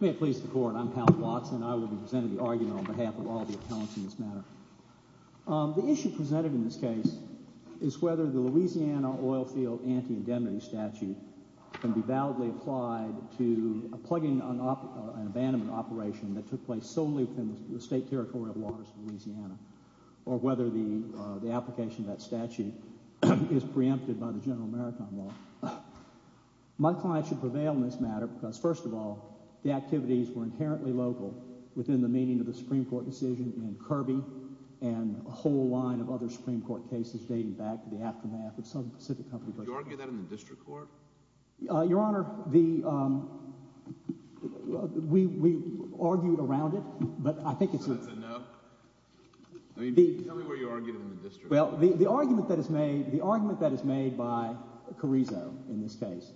May it please the Court, I'm Count Watson, and I will be presenting the argument on behalf of all the appellants in this matter. The issue presented in this case is whether the Louisiana Oilfield Anti-Indemnity Statute can be validly applied to a plugging and abandonment operation that took place solely within the state territory of waters of Louisiana, or whether the application of that statute is preempted by the General Maritime Law. My client should prevail in this matter because, first of all, the activities were inherently local within the meaning of the Supreme Court decision in Kirby and a whole line of other Supreme Court cases dating back to the aftermath of Southern Pacific Company… Did you argue that in the district court? Your Honor, the – we argued around it, but I think it's… So that's a no? I mean tell me where you argued in the district court. Well, the argument that is made – the argument that is made by Carrizo in this case,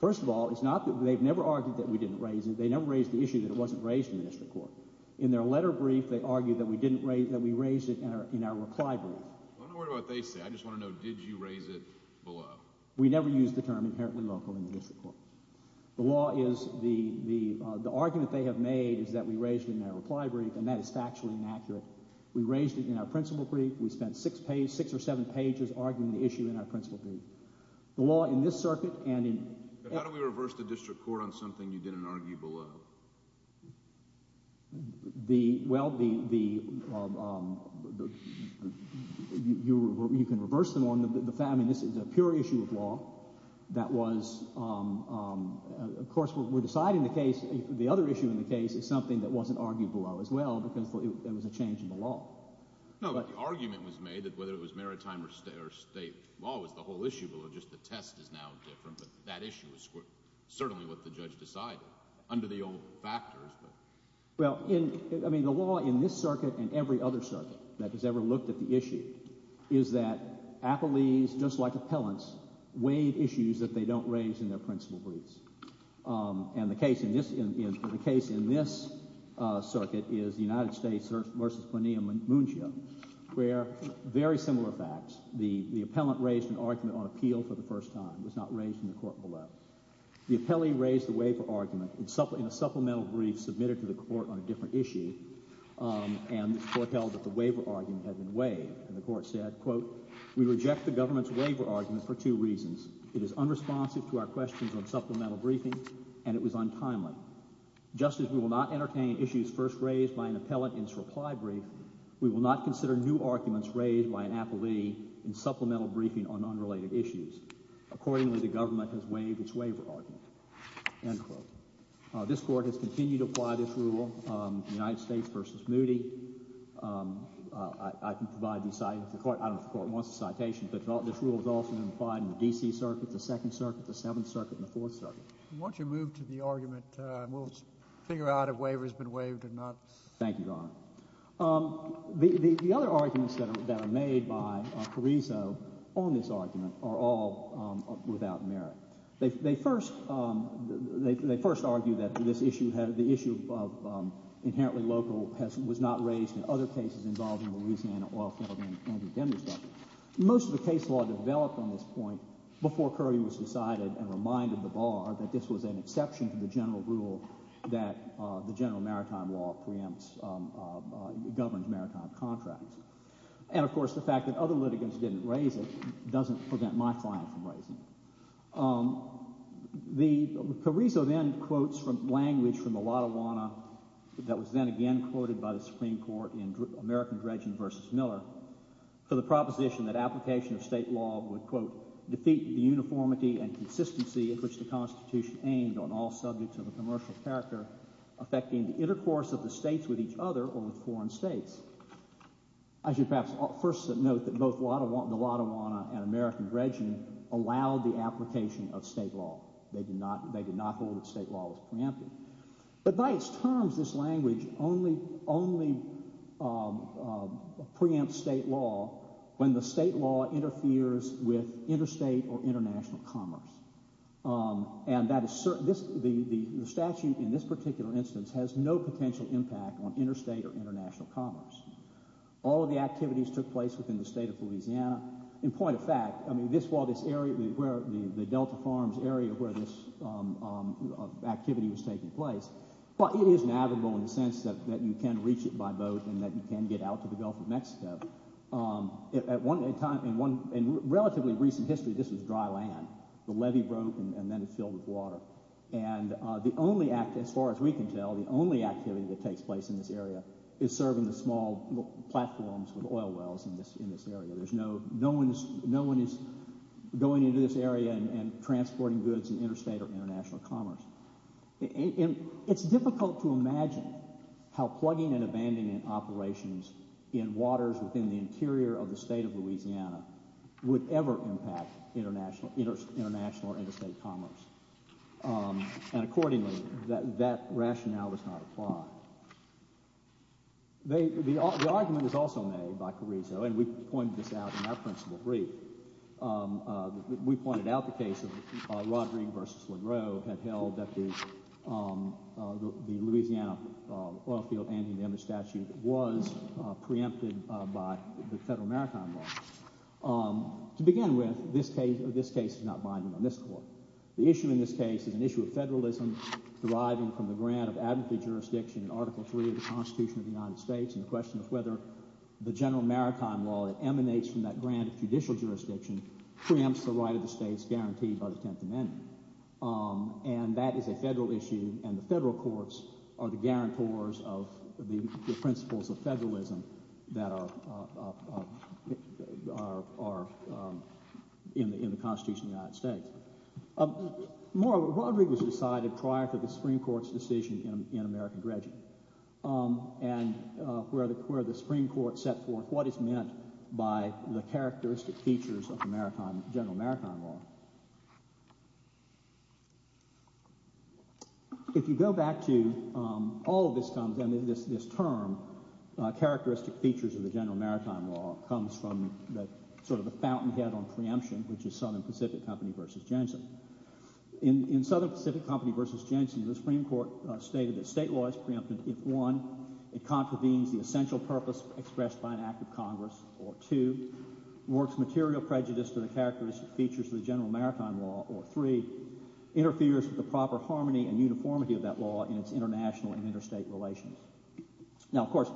first of all, it's not that they've never argued that we didn't raise it. They never raised the issue that it wasn't raised in the district court. In their letter brief, they argued that we didn't raise – that we raised it in our reply brief. I'm not worried about what they say. I just want to know did you raise it below? We never used the term inherently local in the district court. The law is – the argument they have made is that we raised it in our reply brief, and that is factually inaccurate. We raised it in our principle brief. We spent six or seven pages arguing the issue in our principle brief. The law in this circuit and in… But how do we reverse the district court on something you didn't argue below? The – well, the – you can reverse them on the – I mean this is a pure issue of law. That was – of course we're deciding the case. The other issue in the case is something that wasn't argued below as well because it was a change in the law. No, but the argument was made that whether it was maritime or state law was the whole issue below. Just the test is now different, but that issue was certainly what the judge decided under the old factors. Well, in – I mean the law in this circuit and every other circuit that has ever looked at the issue is that appellees, just like appellants, waive issues that they don't raise in their principle briefs. And the case in this – the case in this circuit is the United States versus Plinio Munchio where very similar facts. The appellant raised an argument on appeal for the first time. It was not raised in the court below. The appellee raised the waiver argument in a supplemental brief submitted to the court on a different issue, and the court held that the waiver argument had been waived. And the court said, quote, we reject the government's waiver argument for two reasons. It is unresponsive to our questions on supplemental briefing, and it was untimely. Just as we will not entertain issues first raised by an appellant in its reply brief, we will not consider new arguments raised by an appellee in supplemental briefing on unrelated issues. Accordingly, the government has waived its waiver argument, end quote. This court has continued to apply this rule, the United States versus Moody. I can provide these – the court – I don't know if the court wants a citation, but this rule has also been applied in the D.C. Circuit, the Second Circuit, the Seventh Circuit, and the Fourth Circuit. Why don't you move to the argument and we'll figure out if waiver has been waived or not. Thank you, Your Honor. The other arguments that are made by Carrizo on this argument are all without merit. They first argue that this issue had – the issue of inherently local has – was not raised in other cases involving Louisiana oil fielding and the Denver study. Most of the case law developed on this point before Curry was decided and reminded the bar that this was an exception to the general rule that the general maritime law preempts – governs maritime contracts. And, of course, the fact that other litigants didn't raise it doesn't prevent my client from raising it. The – Carrizo then quotes from language from the Lattawanna that was then again quoted by the Supreme Court in American Dredgen versus Miller for the proposition that application of state law would, quote, Note that both the Lattawanna and American Dredgen allowed the application of state law. They did not hold that state law was preempted. But by its terms, this language only preempts state law when the state law interferes with interstate or international commerce. And that is – the statute in this particular instance has no potential impact on interstate or international commerce. All of the activities took place within the state of Louisiana. In point of fact, I mean this – while this area where – the Delta Farms area where this activity was taking place, well, it is navigable in the sense that you can reach it by boat and that you can get out to the Gulf of Mexico. At one time – in one – in relatively recent history, this was dry land. The levee broke and then it filled with water. And the only – as far as we can tell, the only activity that takes place in this area is serving the small platforms with oil wells in this area. There's no – no one is going into this area and transporting goods in interstate or international commerce. It's difficult to imagine how plugging and abandoning operations in waters within the interior of the state of Louisiana would ever impact international or interstate commerce. And accordingly, that rationale does not apply. The argument was also made by Carrizo, and we pointed this out in our principle brief. We pointed out the case of Rod Ring v. Legro had held that the Louisiana oilfield anti-damage statute was preempted by the federal maritime law. To begin with, this case is not binding on this court. The issue in this case is an issue of federalism deriving from the grant of admitted jurisdiction in Article III of the Constitution of the United States and the question of whether the general maritime law that emanates from that grant of judicial jurisdiction preempts the right of the states guaranteed by the Tenth Amendment. And that is a federal issue, and the federal courts are the guarantors of the principles of federalism that are in the Constitution of the United States. More, Rod Ring was decided prior to the Supreme Court's decision in American dredging, and where the Supreme Court set forth what is meant by the characteristic features of the general maritime law. If you go back to all of this term, characteristic features of the general maritime law comes from sort of the fountainhead on preemption, which is Southern Pacific Company v. Jensen. In Southern Pacific Company v. Jensen, the Supreme Court stated that state law is preempted if, one, it contravenes the essential purpose expressed by an act of Congress, or, two, works material prejudice to the characteristic features of the general maritime law, or, three, interferes with the proper harmony and uniformity of that law in its international and interstate relations. Now, of course,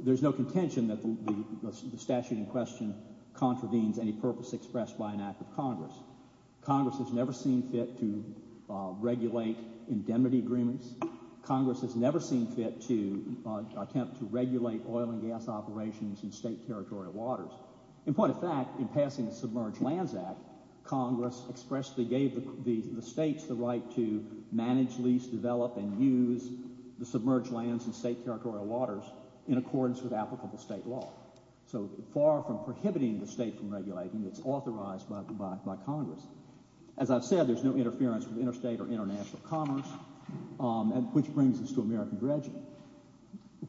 there's no contention that the statute in question contravenes any purpose expressed by an act of Congress. Congress has never seen fit to regulate indemnity agreements. Congress has never seen fit to attempt to regulate oil and gas operations in state territorial waters. In point of fact, in passing the Submerged Lands Act, Congress expressly gave the states the right to manage, lease, develop, and use the submerged lands in state territorial waters in accordance with applicable state law. So far from prohibiting the state from regulating, it's authorized by Congress. As I've said, there's no interference with interstate or international commerce, which brings us to American dredging,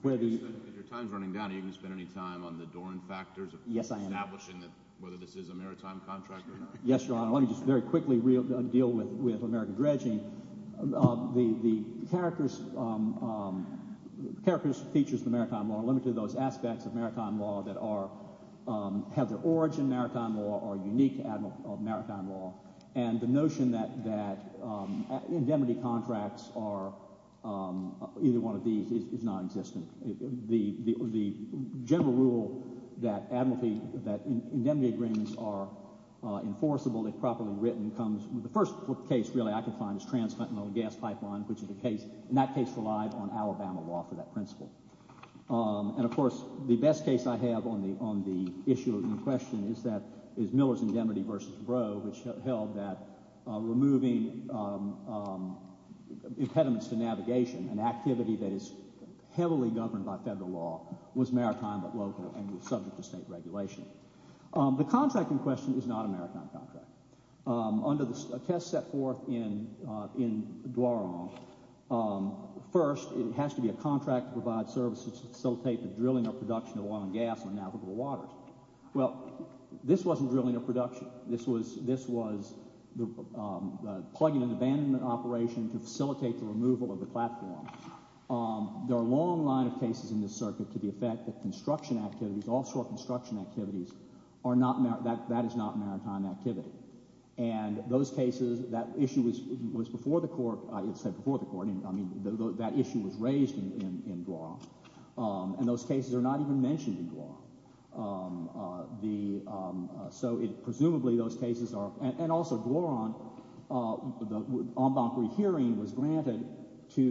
where the— At your time's running down, are you going to spend any time on the Doran factors of establishing whether this is a maritime contract or not? Yes, Your Honor. Let me just very quickly deal with American dredging. The characters and features of the maritime law are limited to those aspects of maritime law that have their origin in maritime law or are unique to maritime law. And the notion that indemnity contracts are either one of these is non-existent. The general rule that indemnity agreements are enforceable, if properly written, comes—the first case, really, I can find is Trans-Fentanyl and Gas Pipeline, which is a case—and that case relied on Alabama law for that principle. And, of course, the best case I have on the issue in question is that—is Miller's Indemnity v. Breaux, which held that removing impediments to navigation, an activity that is heavily governed by federal law, was maritime but local and was subject to state regulation. The contract in question is not a maritime contract. Under the test set forth in Doran, first it has to be a contract to provide services to facilitate the drilling or production of oil and gas in navigable waters. Well, this wasn't drilling or production. This was plugging an abandonment operation to facilitate the removal of the platform. There are a long line of cases in this circuit to the effect that construction activities, offshore construction activities, are not—that is not maritime activity. And those cases—that issue was before the court—I didn't say before the court. I mean that issue was raised in Duran. And those cases are not even mentioned in Duran. So it—presumably those cases are—and also Duran, the en banc rehearing was granted to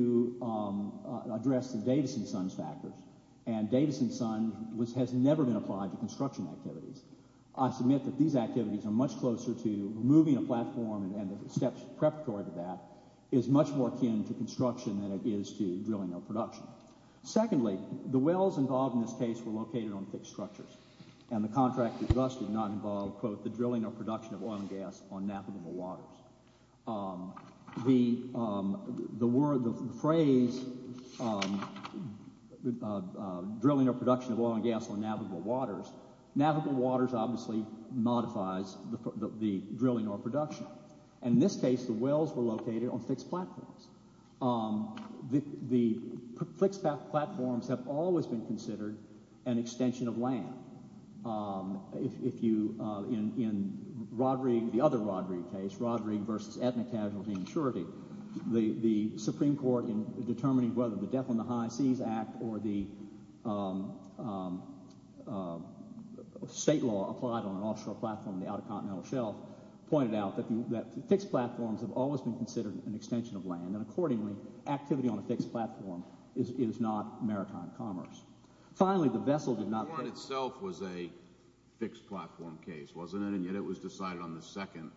address the Davis and Sons factors. And Davis and Sons has never been applied to construction activities. I submit that these activities are much closer to removing a platform and the steps preparatory to that is much more akin to construction than it is to drilling or production. Secondly, the wells involved in this case were located on fixed structures. And the contract addressed did not involve, quote, the drilling or production of oil and gas on navigable waters. The phrase drilling or production of oil and gas on navigable waters, navigable waters obviously modifies the drilling or production. And in this case the wells were located on fixed platforms. The fixed platforms have always been considered an extension of land. If you—in Roderig, the other Roderig case, Roderig v. Ethnic Casualty and Insurity, the Supreme Court in determining whether the Death on the High Seas Act or the state law applied on an offshore platform, the Outer Continental Shelf, pointed out that fixed platforms have always been considered an extension of land. And accordingly, activity on a fixed platform is not maritime commerce. Finally, the vessel did not— The warrant itself was a fixed platform case, wasn't it? And yet it was decided on the second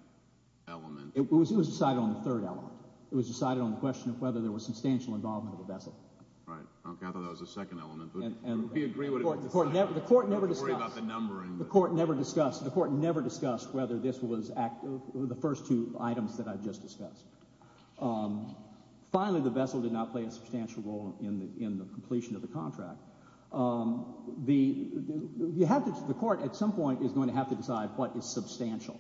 element. It was decided on the third element. It was decided on the question of whether there was substantial involvement of the vessel. Right. Okay, I thought that was the second element. And the court never discussed— Don't worry about the numbering. The court never discussed—the court never discussed whether this was—the first two items that I've just discussed. Finally, the vessel did not play a substantial role in the completion of the contract. The—you have to—the court at some point is going to have to decide what is substantial.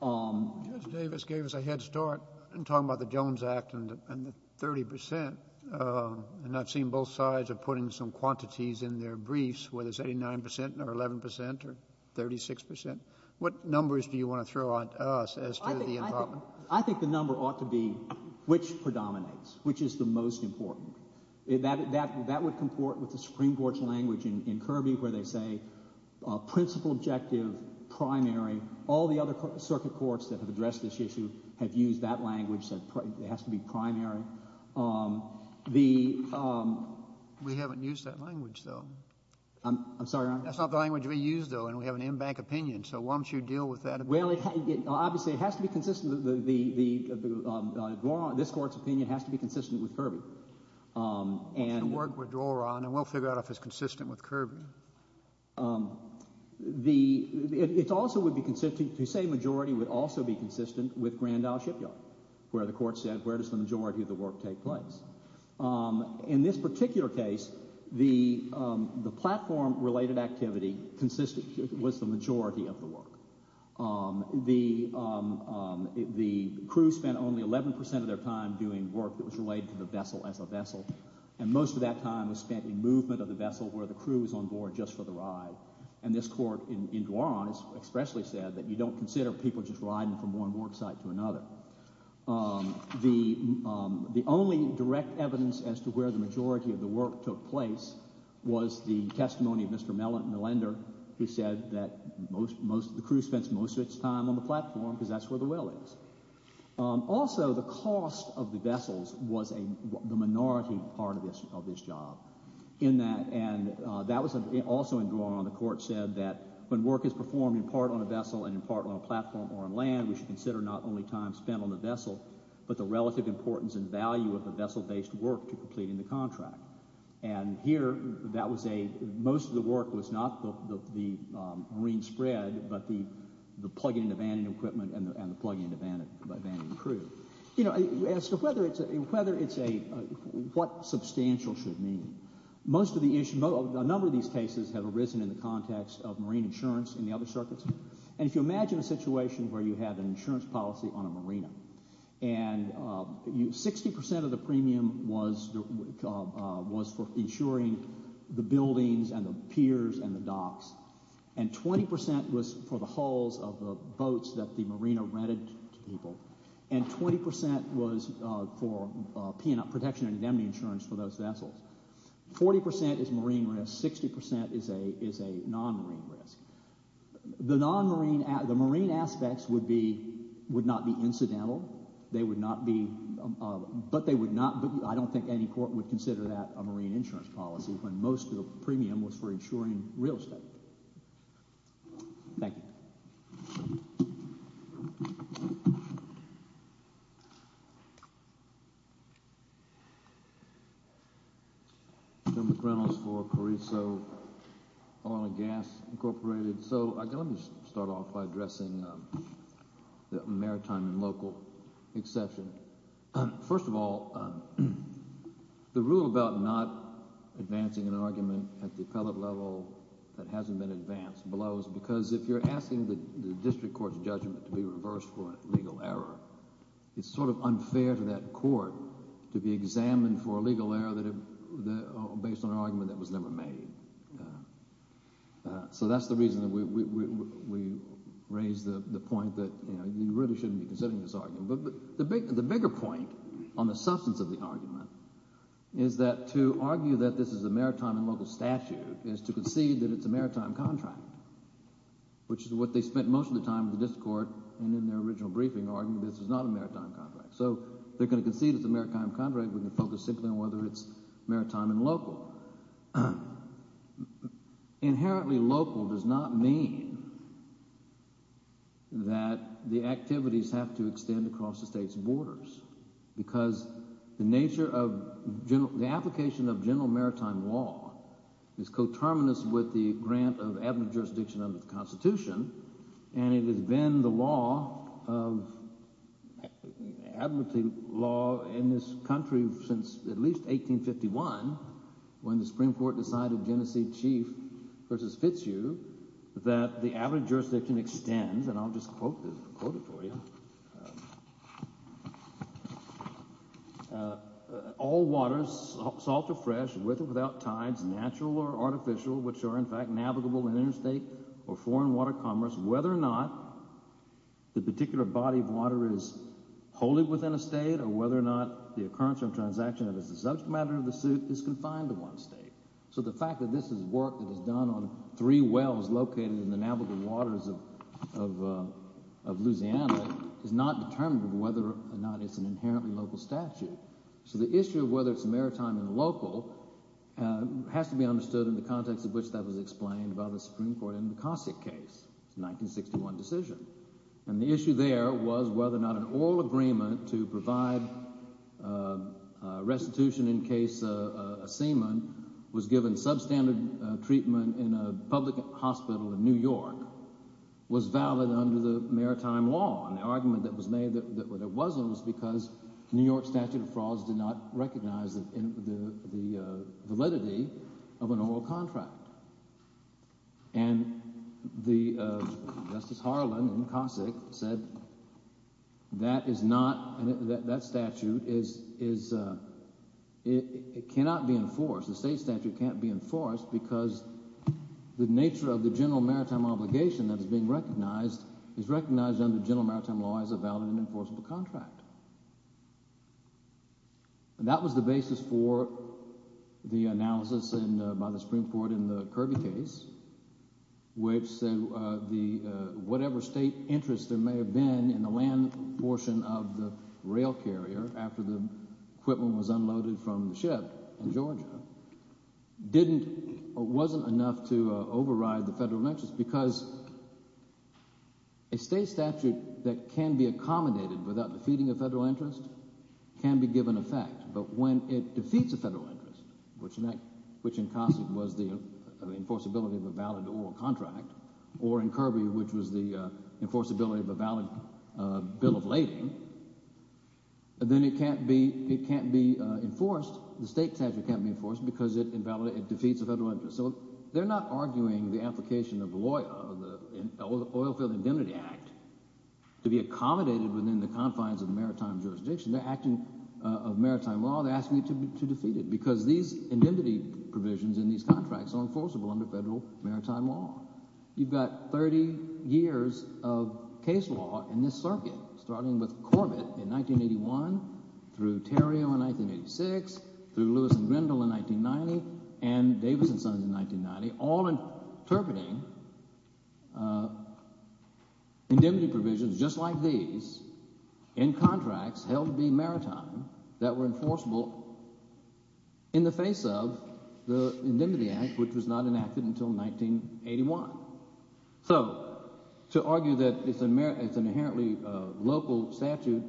Judge Davis gave us a head start in talking about the Jones Act and the 30 percent. And I've seen both sides are putting some quantities in their briefs, whether it's 89 percent or 11 percent or 36 percent. What numbers do you want to throw at us as to the involvement? I think the number ought to be which predominates, which is the most important. That would comport with the Supreme Court's language in Kirby where they say principle, objective, primary. All the other circuit courts that have addressed this issue have used that language. It has to be primary. The— We haven't used that language, though. I'm sorry, Your Honor? That's not the language we use, though, and we have an in-bank opinion. So why don't you deal with that opinion? Well, it—obviously, it has to be consistent. This Court's opinion has to be consistent with Kirby. It should work with Doron, and we'll figure out if it's consistent with Kirby. The—it also would be consistent—to say majority would also be consistent with Grand Isle Shipyard, where the court said where does the majority of the work take place. In this particular case, the platform-related activity consisted—was the majority of the work. The crew spent only 11 percent of their time doing work that was related to the vessel as a vessel, and most of that time was spent in movement of the vessel where the crew was on board just for the ride. And this court in Doron has expressly said that you don't consider people just riding from one work site to another. The only direct evidence as to where the majority of the work took place was the testimony of Mr. Millender, who said that most—the crew spends most of its time on the platform because that's where the well is. Also, the cost of the vessels was the minority part of this job. In that—and that was also in Doron. The court said that when work is performed in part on a vessel and in part on a platform or on land, we should consider not only time spent on the vessel, but the relative importance and value of the vessel-based work to completing the contract. And here, that was a—most of the work was not the marine spread, but the plug-in to banding equipment and the plug-in to banding crew. You know, as to whether it's a—whether it's a—what substantial should mean. Most of the issue—a number of these cases have arisen in the context of marine insurance in the other circuits. And if you imagine a situation where you have an insurance policy on a marina, and 60 percent of the premium was for insuring the buildings and the piers and the docks, and 20 percent was for the hulls of the boats that the marina rented to people, and 20 percent was for protection and indemnity insurance for those vessels. Forty percent is marine risk. Sixty percent is a—is a non-marine risk. The non-marine—the marine aspects would be—would not be incidental. They would not be—but they would not— I don't think any court would consider that a marine insurance policy when most of the premium was for insuring real estate. Thank you. General McReynolds for Carrizo Oil and Gas Incorporated. So let me start off by addressing the maritime and local exception. First of all, the rule about not advancing an argument at the appellate level that hasn't been advanced blows because if you're asking the district court's judgment to be reversed for a legal error, it's sort of unfair to that court to be examined for a legal error based on an argument that was never made. So that's the reason that we raised the point that you really shouldn't be considering this argument. But the bigger point on the substance of the argument is that to argue that this is a maritime and local statute is to concede that it's a maritime contract, which is what they spent most of the time with the district court in their original briefing arguing this is not a maritime contract. So they're going to concede it's a maritime contract. We're going to focus simply on whether it's maritime and local. Inherently local does not mean that the activities have to extend across the state's borders because the nature of the application of general maritime law is coterminous with the grant of admittance jurisdiction under the Constitution, and it has been the law of admittance law in this country since at least 1851 when the Supreme Court decided Genesee Chief v. Fitzhugh that the admittance jurisdiction extends, and I'll just quote it for you. All waters, salt or fresh, with or without tides, natural or artificial, which are in fact navigable in interstate or foreign water commerce, whether or not the particular body of water is wholly within a state or whether or not the occurrence or transaction that is the subject matter of the suit is confined to one state. So the fact that this is work that is done on three wells located in the navigable waters of Louisiana is not determinative of whether or not it's an inherently local statute. So the issue of whether it's maritime and local has to be understood in the context of which that was explained by the Supreme Court in the Cossack case, the 1961 decision. And the issue there was whether or not an oral agreement to provide restitution in case a seaman was given substandard treatment in a public hospital in New York was valid under the maritime law. And the argument that was made that it wasn't was because the New York statute of frauds did not recognize the validity of an oral contract. And Justice Harlan in the Cossack said that is not, that statute is, it cannot be enforced. The state statute can't be enforced because the nature of the general maritime obligation that is being recognized is recognized under general maritime law as a valid and enforceable contract. And that was the basis for the analysis by the Supreme Court in the Kirby case, which said whatever state interest there may have been in the land portion of the rail carrier after the equipment was unloaded from the ship in Georgia wasn't enough to override the federal interest because a state statute that can be accommodated without defeating a federal interest can be given effect. But when it defeats a federal interest, which in Cossack was the enforceability of a valid oral contract, or in Kirby, which was the enforceability of a valid bill of lading, then it can't be enforced. The state statute can't be enforced because it defeats a federal interest. So they're not arguing the application of the Oilfield Indemnity Act to be accommodated within the confines of maritime jurisdiction. They're acting of maritime law. They're asking you to defeat it because these indemnity provisions in these contracts are enforceable under federal maritime law. You've got 30 years of case law in this circuit, starting with Corbett in 1981, through Terrio in 1986, through Lewis and Grendel in 1990, and Davis and Sons in 1990, all interpreting indemnity provisions just like these in contracts held to be maritime that were enforceable in the face of the Indemnity Act, which was not enacted until 1981. So to argue that it's an inherently local statute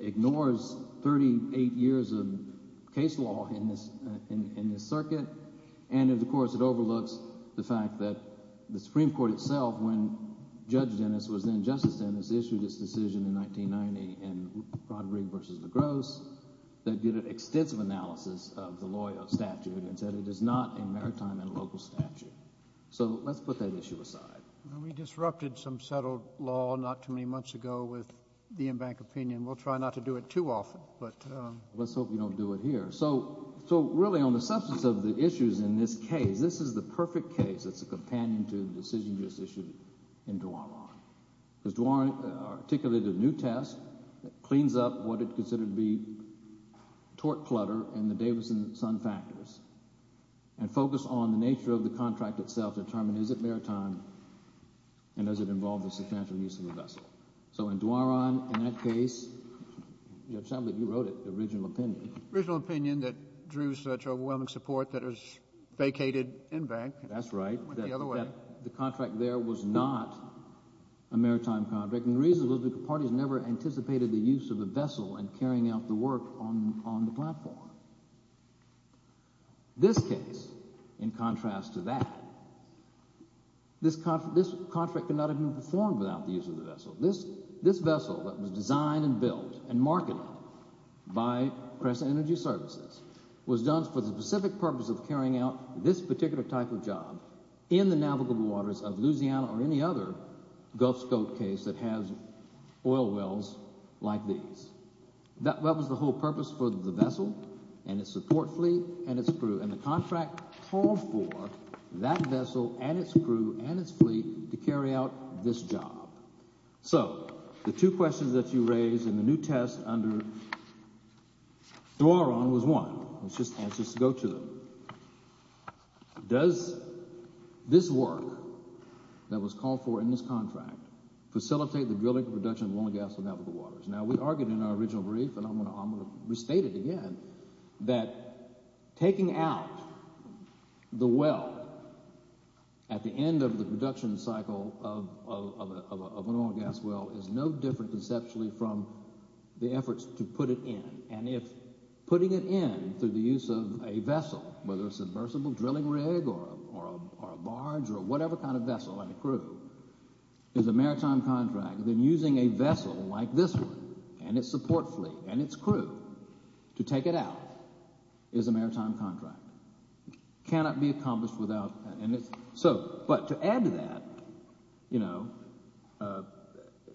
ignores 38 years of case law in this circuit, and, of course, it overlooks the fact that the Supreme Court itself, when Judge Dennis was then Justice Dennis, issued its decision in 1990 in Broderick v. LaGrosse that did an extensive analysis of the law statute and said it is not a maritime and local statute. So let's put that issue aside. We disrupted some settled law not too many months ago with the embankment opinion. We'll try not to do it too often, but… Let's hope you don't do it here. So really on the substance of the issues in this case, this is the perfect case that's a companion to the decision you just issued in Dwaron, because Dwaron articulated a new test that cleans up what it considered to be tort clutter and the Davis and Sons factors and focused on the nature of the contract itself to determine is it maritime and does it involve the substantial use of the vessel. So in Dwaron, in that case, you wrote it, the original opinion. The original opinion that drew such overwhelming support that it was vacated embankment. That's right. It went the other way. The contract there was not a maritime contract, and the reason was because the parties never anticipated the use of the vessel and carrying out the work on the platform. This case, in contrast to that, this contract could not have been performed without the use of the vessel. This vessel that was designed and built and marketed by Press Energy Services was done for the specific purpose of carrying out this particular type of job in the navigable waters of Louisiana or any other Gulf Scope case that has oil wells like these. That was the whole purpose for the vessel and its support fleet and its crew, and the contract called for that vessel and its crew and its fleet to carry out this job. So the two questions that you raised in the new test under Dwaron was one. It's just answers to go to them. Does this work that was called for in this contract facilitate the drilling and production of oil and gas in the navigable waters? Now we argued in our original brief, and I'm going to restate it again, that taking out the well at the end of the production cycle of an oil and gas well is no different conceptually from the efforts to put it in. And if putting it in through the use of a vessel, whether a submersible drilling rig or a barge or whatever kind of vessel and a crew, is a maritime contract, then using a vessel like this one and its support fleet and its crew to take it out is a maritime contract. It cannot be accomplished without that. But to add to that,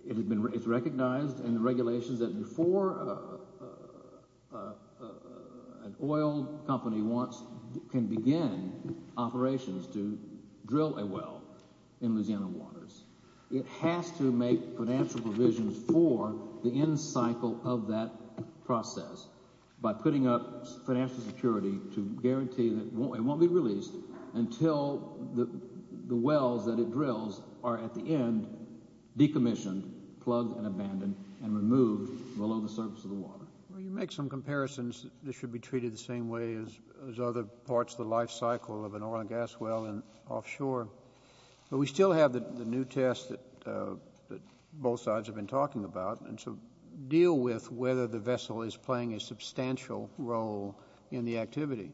it's recognized in the regulations that before an oil company can begin operations to drill a well in Louisiana waters, it has to make financial provisions for the end cycle of that process. By putting up financial security to guarantee that it won't be released until the wells that it drills are at the end decommissioned, plugged and abandoned, and removed below the surface of the water. Well, you make some comparisons that this should be treated the same way as other parts of the life cycle of an oil and gas well offshore. But we still have the new test that both sides have been talking about. And so deal with whether the vessel is playing a substantial role in the activity.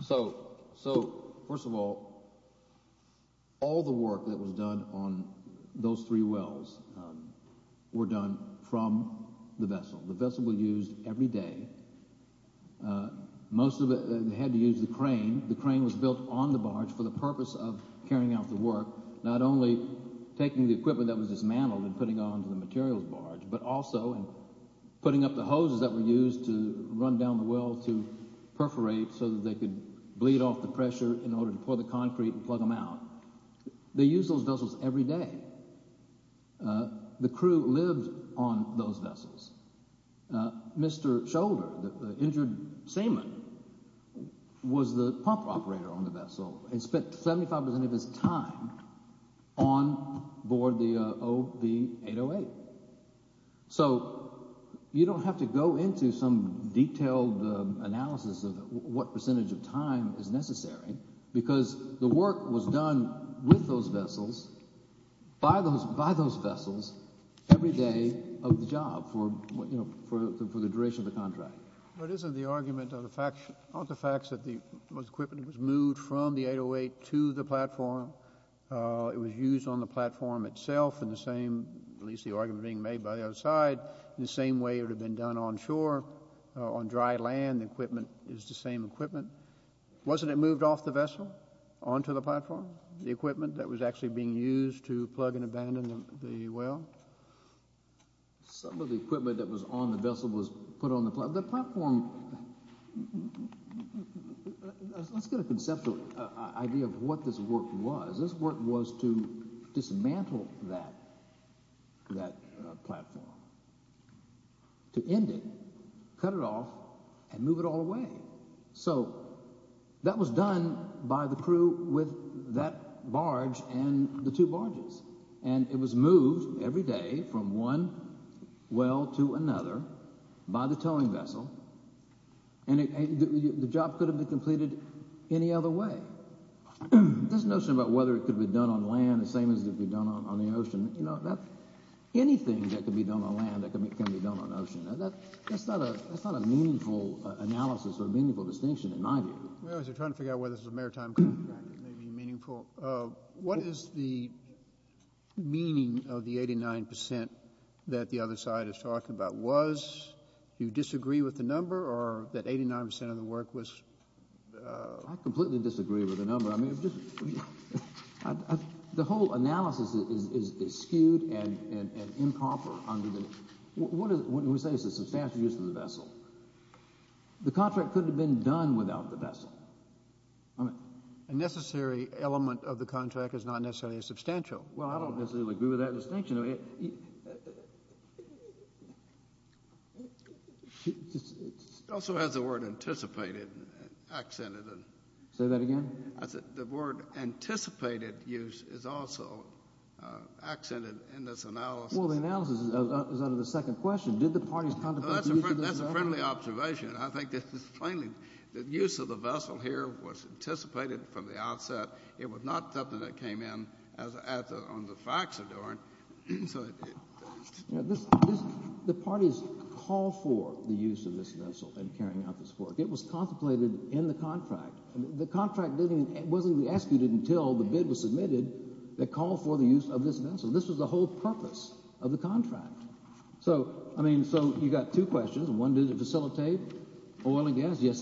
So first of all, all the work that was done on those three wells were done from the vessel. The vessel was used every day. Most of it had to use the crane. The crane was built on the barge for the purpose of carrying out the work, not only taking the equipment that was dismantled and putting it onto the materials barge, but also putting up the hoses that were used to run down the well to perforate so that they could bleed off the pressure in order to pour the concrete and plug them out. They used those vessels every day. The crew lived on those vessels. Mr. Scholder, the injured sailor, was the pump operator on the vessel and spent 75% of his time on board the OB-808. So you don't have to go into some detailed analysis of what percentage of time is necessary because the work was done with those vessels, by those vessels, every day of the job for the duration of the contract. But isn't the argument of the facts that the equipment was moved from the 808 to the platform, it was used on the platform itself in the same, at least the argument being made by the other side, in the same way it would have been done on shore, on dry land, the equipment is the same equipment. Wasn't it moved off the vessel, onto the platform, the equipment that was actually being used to plug and abandon the well? Some of the equipment that was on the vessel was put on the platform. The platform – let's get a conceptual idea of what this work was. This work was to dismantle that platform, to end it, cut it off, and move it all away. So that was done by the crew with that barge and the two barges, and it was moved every day from one well to another by the towing vessel, and the job could have been completed any other way. This notion about whether it could be done on land the same as it could be done on the ocean, anything that can be done on land can be done on the ocean. That's not a meaningful analysis or a meaningful distinction in my view. Well, as you're trying to figure out whether this is a maritime contract, it may be meaningful. What is the meaning of the 89 percent that the other side is talking about? Was you disagree with the number or that 89 percent of the work was – I completely disagree with the number. The whole analysis is skewed and improper. What do we say is a substantial use of the vessel? The contract could have been done without the vessel. A necessary element of the contract is not necessarily substantial. Well, I don't necessarily agree with that distinction. It also has the word anticipated accented in it. Say that again? The word anticipated use is also accented in this analysis. Well, the analysis is under the second question. Did the parties contemplate the use of the vessel? That's a friendly observation. I think this is plainly – the use of the vessel here was anticipated from the outset. It was not something that came in on the facts of doing it. The parties call for the use of this vessel in carrying out this work. It was contemplated in the contract. The contract wasn't executed until the bid was submitted that called for the use of this vessel. This was the whole purpose of the contract. So, I mean, so you've got two questions. One, did it facilitate oil and gas? Well,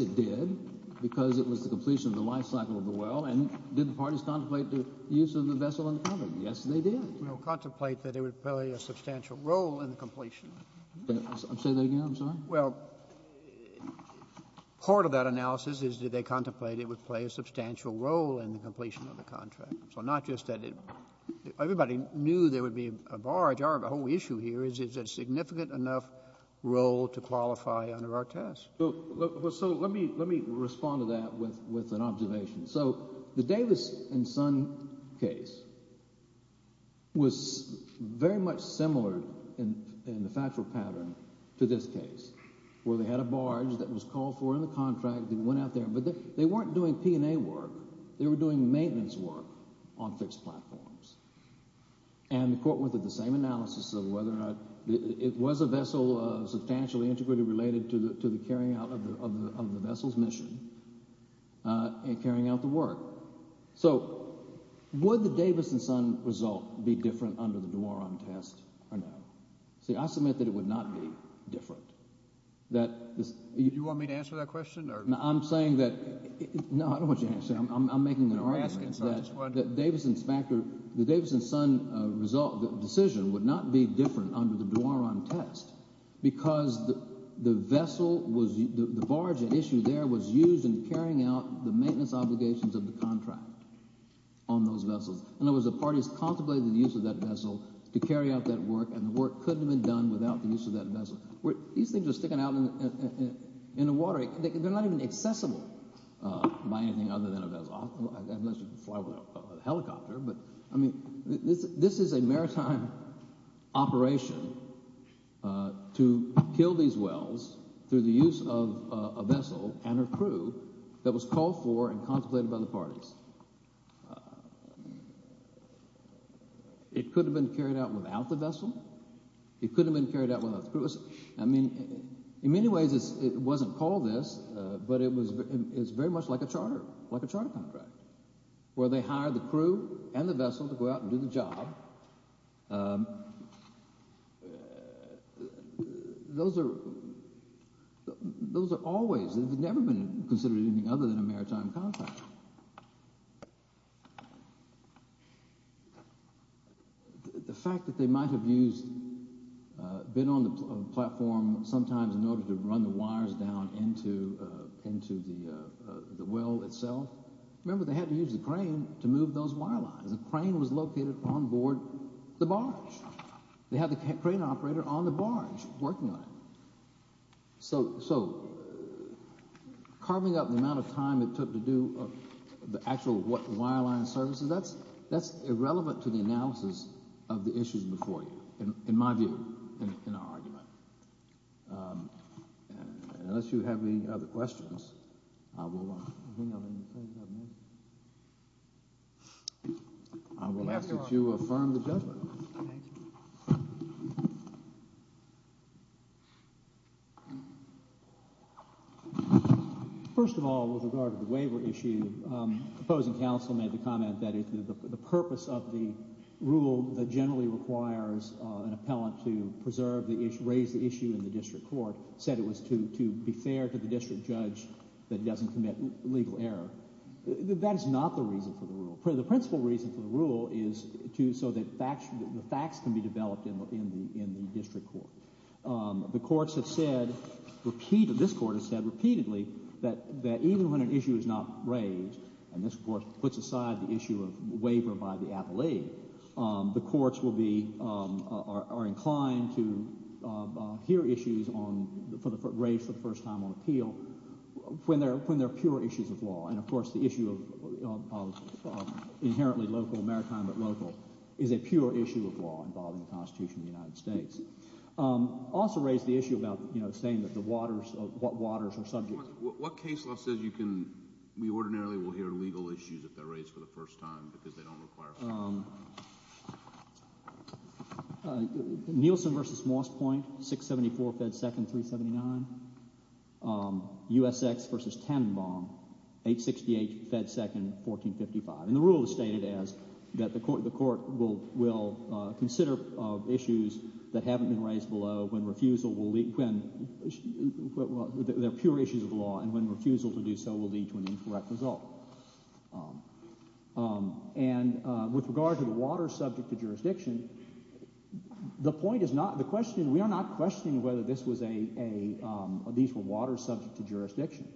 and did the parties contemplate the use of the vessel in the contract? Yes, they did. Well, contemplate that it would play a substantial role in the completion. Say that again? I'm sorry. Well, part of that analysis is did they contemplate it would play a substantial role in the completion of the contract. So not just that it – everybody knew there would be a barge. Our whole issue here is is it a significant enough role to qualify under our test. So let me respond to that with an observation. So the Davis and Son case was very much similar in the factual pattern to this case, where they had a barge that was called for in the contract and went out there. But they weren't doing P&A work. They were doing maintenance work on fixed platforms. And the court went through the same analysis of whether or not it was a vessel substantially, integrally related to the carrying out of the vessel's mission and carrying out the work. So would the Davis and Son result be different under the Duaron test or no? See, I submit that it would not be different, that this – Do you want me to answer that question or – No, I'm saying that – no, I don't want you to answer that. I'm making an argument that the Davis and Son result, the decision, would not be different under the Duaron test because the vessel was – the barge at issue there was used in carrying out the maintenance obligations of the contract on those vessels. In other words, the parties contemplated the use of that vessel to carry out that work, and the work could have been done without the use of that vessel. These things are sticking out in the water. They're not even accessible by anything other than a vessel, unless you fly with a helicopter. But, I mean, this is a maritime operation to kill these wells through the use of a vessel and her crew that was called for and contemplated by the parties. It could have been carried out without the vessel. It could have been carried out without the crew. I mean, in many ways it wasn't called this, but it was very much like a charter, like a charter contract, where they hired the crew and the vessel to go out and do the job. Those are always – they've never been considered anything other than a maritime contract. The fact that they might have used – been on the platform sometimes in order to run the wires down into the well itself. Remember, they had to use the crane to move those wire lines. The crane was located on board the barge. They had the crane operator on the barge working on it. So carving up the amount of time it took to do the actual wire line services, that's irrelevant to the analysis of the issues before you, in my view, in our argument. Unless you have any other questions, I will ask that you affirm the judgment. First of all, with regard to the waiver issue, the opposing counsel made the comment that the purpose of the rule that generally requires an appellant to preserve the issue, raise the issue in the district court, said it was to be fair to the district judge that doesn't commit legal error. That is not the reason for the rule. The principal reason for the rule is so that facts can be developed in the district court. The courts have said repeatedly – this court has said repeatedly that even when an issue is not raised, and this court puts aside the issue of waiver by the appellee, the courts will be – are inclined to hear issues on – raised for the first time on appeal when they're pure issues of law. And, of course, the issue of inherently local maritime but local is a pure issue of law involving the Constitution of the United States. Also raised the issue about saying that the waters – what waters are subject – What case law says you can – we ordinarily will hear legal issues if they're raised for the first time because they don't require – Nielsen v. Moss Point, 674 Fed 2nd, 379. USX v. Tannenbaum, 868 Fed 2nd, 1455. And the rule is stated as that the court will consider issues that haven't been raised below when refusal will – when they're pure issues of law and when refusal to do so will lead to an incorrect result. And with regard to the waters subject to jurisdiction, the point is not – the question – we are not questioning whether this was a – these were waters subject to jurisdiction.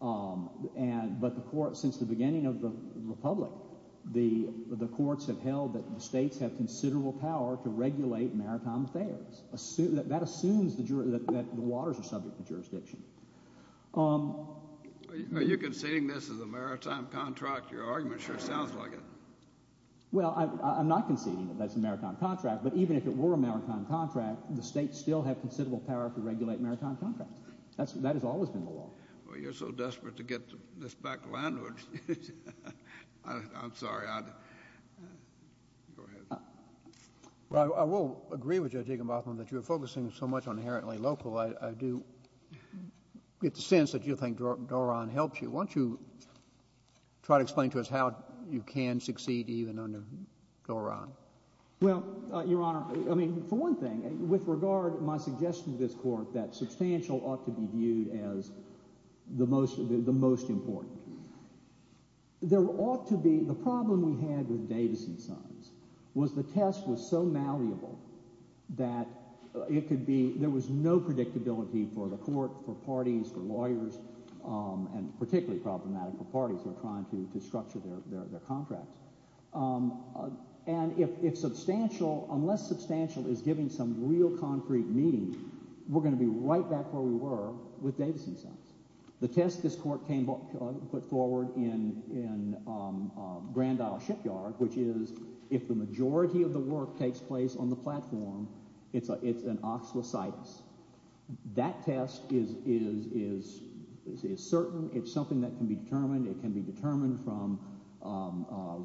But the court – since the beginning of the republic, the courts have held that the states have considerable power to regulate maritime affairs. That assumes that the waters are subject to jurisdiction. Are you conceding this is a maritime contract? Your argument sure sounds like it. Well, I'm not conceding that that's a maritime contract. But even if it were a maritime contract, the states still have considerable power to regulate maritime contracts. That has always been the law. Well, you're so desperate to get this back landward. I'm sorry. Go ahead. Well, I will agree with Judge Aikenbotham that you're focusing so much on inherently local. I do get the sense that you think Doron helps you. Why don't you try to explain to us how you can succeed even under Doron? Well, Your Honor, I mean, for one thing, with regard to my suggestion to this court that substantial ought to be viewed as the most important. There ought to be – the problem we had with Davison Sons was the test was so malleable that it could be – there was no predictability for the court, for parties, for lawyers, and particularly problematic for parties who are trying to structure their contracts. And if substantial – unless substantial is giving some real concrete meaning, we're going to be right back where we were with Davison Sons. The test this court came – put forward in Grand Isle Shipyard, which is if the majority of the work takes place on the platform, it's an oxlocytis. That test is certain. It's something that can be determined. It can be determined from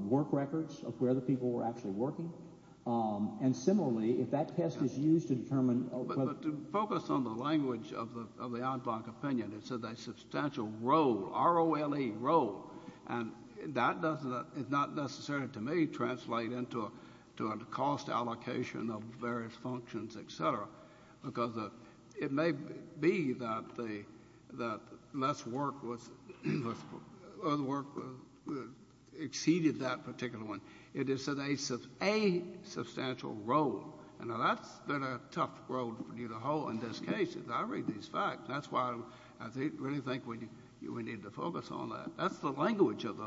work records of where the people were actually working. And similarly, if that test is used to determine – But to focus on the language of the ad hoc opinion, it says a substantial role, R-O-L-E, role. And that doesn't – it's not necessary to me to translate into a cost allocation of various functions, et cetera, because it may be that less work was – or the work exceeded that particular one. It is a substantial role. And that's been a tough road for you to hoe in this case. I read these facts. That's why I really think we need to focus on that. That's the language of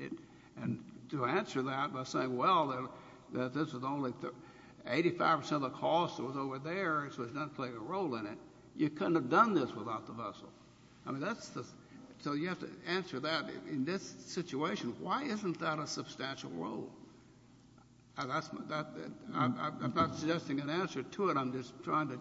it. And to answer that by saying, well, this is only – 85 percent of the cost was over there, so it doesn't play a role in it, you couldn't have done this without the vessel. I mean, that's the – so you have to answer that in this situation. Why isn't that a substantial role? I'm not suggesting an answer to it. I'm just trying to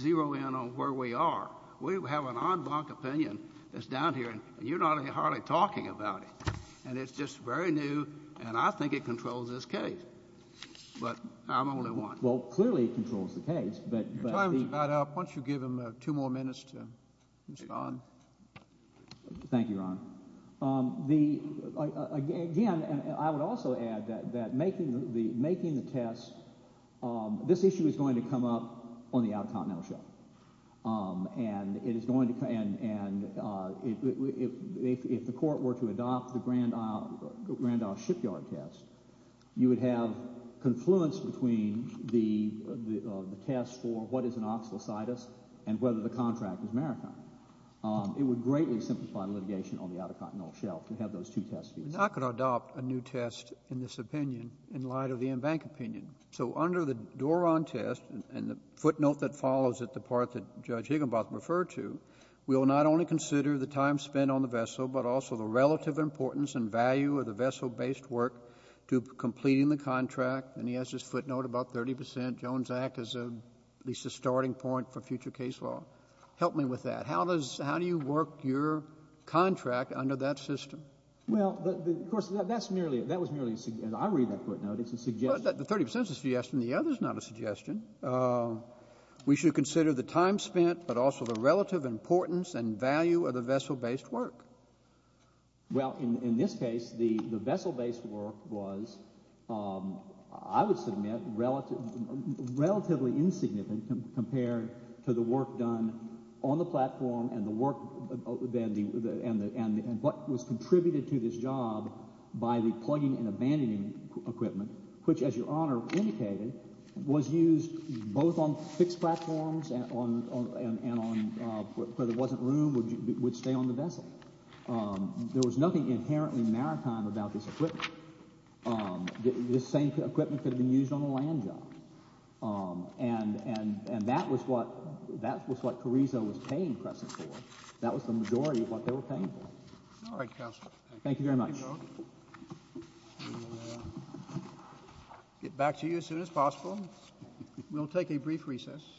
zero in on where we are. We have an ad hoc opinion that's down here, and you're hardly talking about it. And it's just very new, and I think it controls this case. But I'm only one. Well, clearly it controls the case, but the – Your time is about up. Thank you, Your Honor. The – again, I would also add that making the test – this issue is going to come up on the Outer Continental Show. And it is going to – and if the court were to adopt the Grand Isle shipyard test, you would have confluence between the test for what is an oxalocytis and whether the contract is maritime. It would greatly simplify litigation on the Outer Continental Shelf to have those two tests be used. I could adopt a new test in this opinion in light of the in-bank opinion. So under the Doron test and the footnote that follows it, the part that Judge Higginbotham referred to, we will not only consider the time spent on the vessel but also the relative importance and value of the vessel-based work to completing the contract. And he has his footnote about 30 percent. Jones Act is at least a starting point for future case law. Help me with that. How does – how do you work your contract under that system? Well, of course, that's merely – that was merely – I read that footnote. It's a suggestion. The 30 percent is a suggestion. The other is not a suggestion. We should consider the time spent but also the relative importance and value of the vessel-based work. Well, in this case, the vessel-based work was, I would submit, relatively insignificant compared to the work done on the platform and the work – and what was contributed to this job by the plugging and abandoning equipment, which, as Your Honor indicated, was used both on fixed platforms and on – where there wasn't room would stay on the vessel. There was nothing inherently maritime about this equipment. This same equipment could have been used on a land job. And that was what Carrizo was paying Crescent for. That was the majority of what they were paying for. All right, Counsel. Thank you. Thank you very much. We will get back to you as soon as possible. We'll take a brief recess.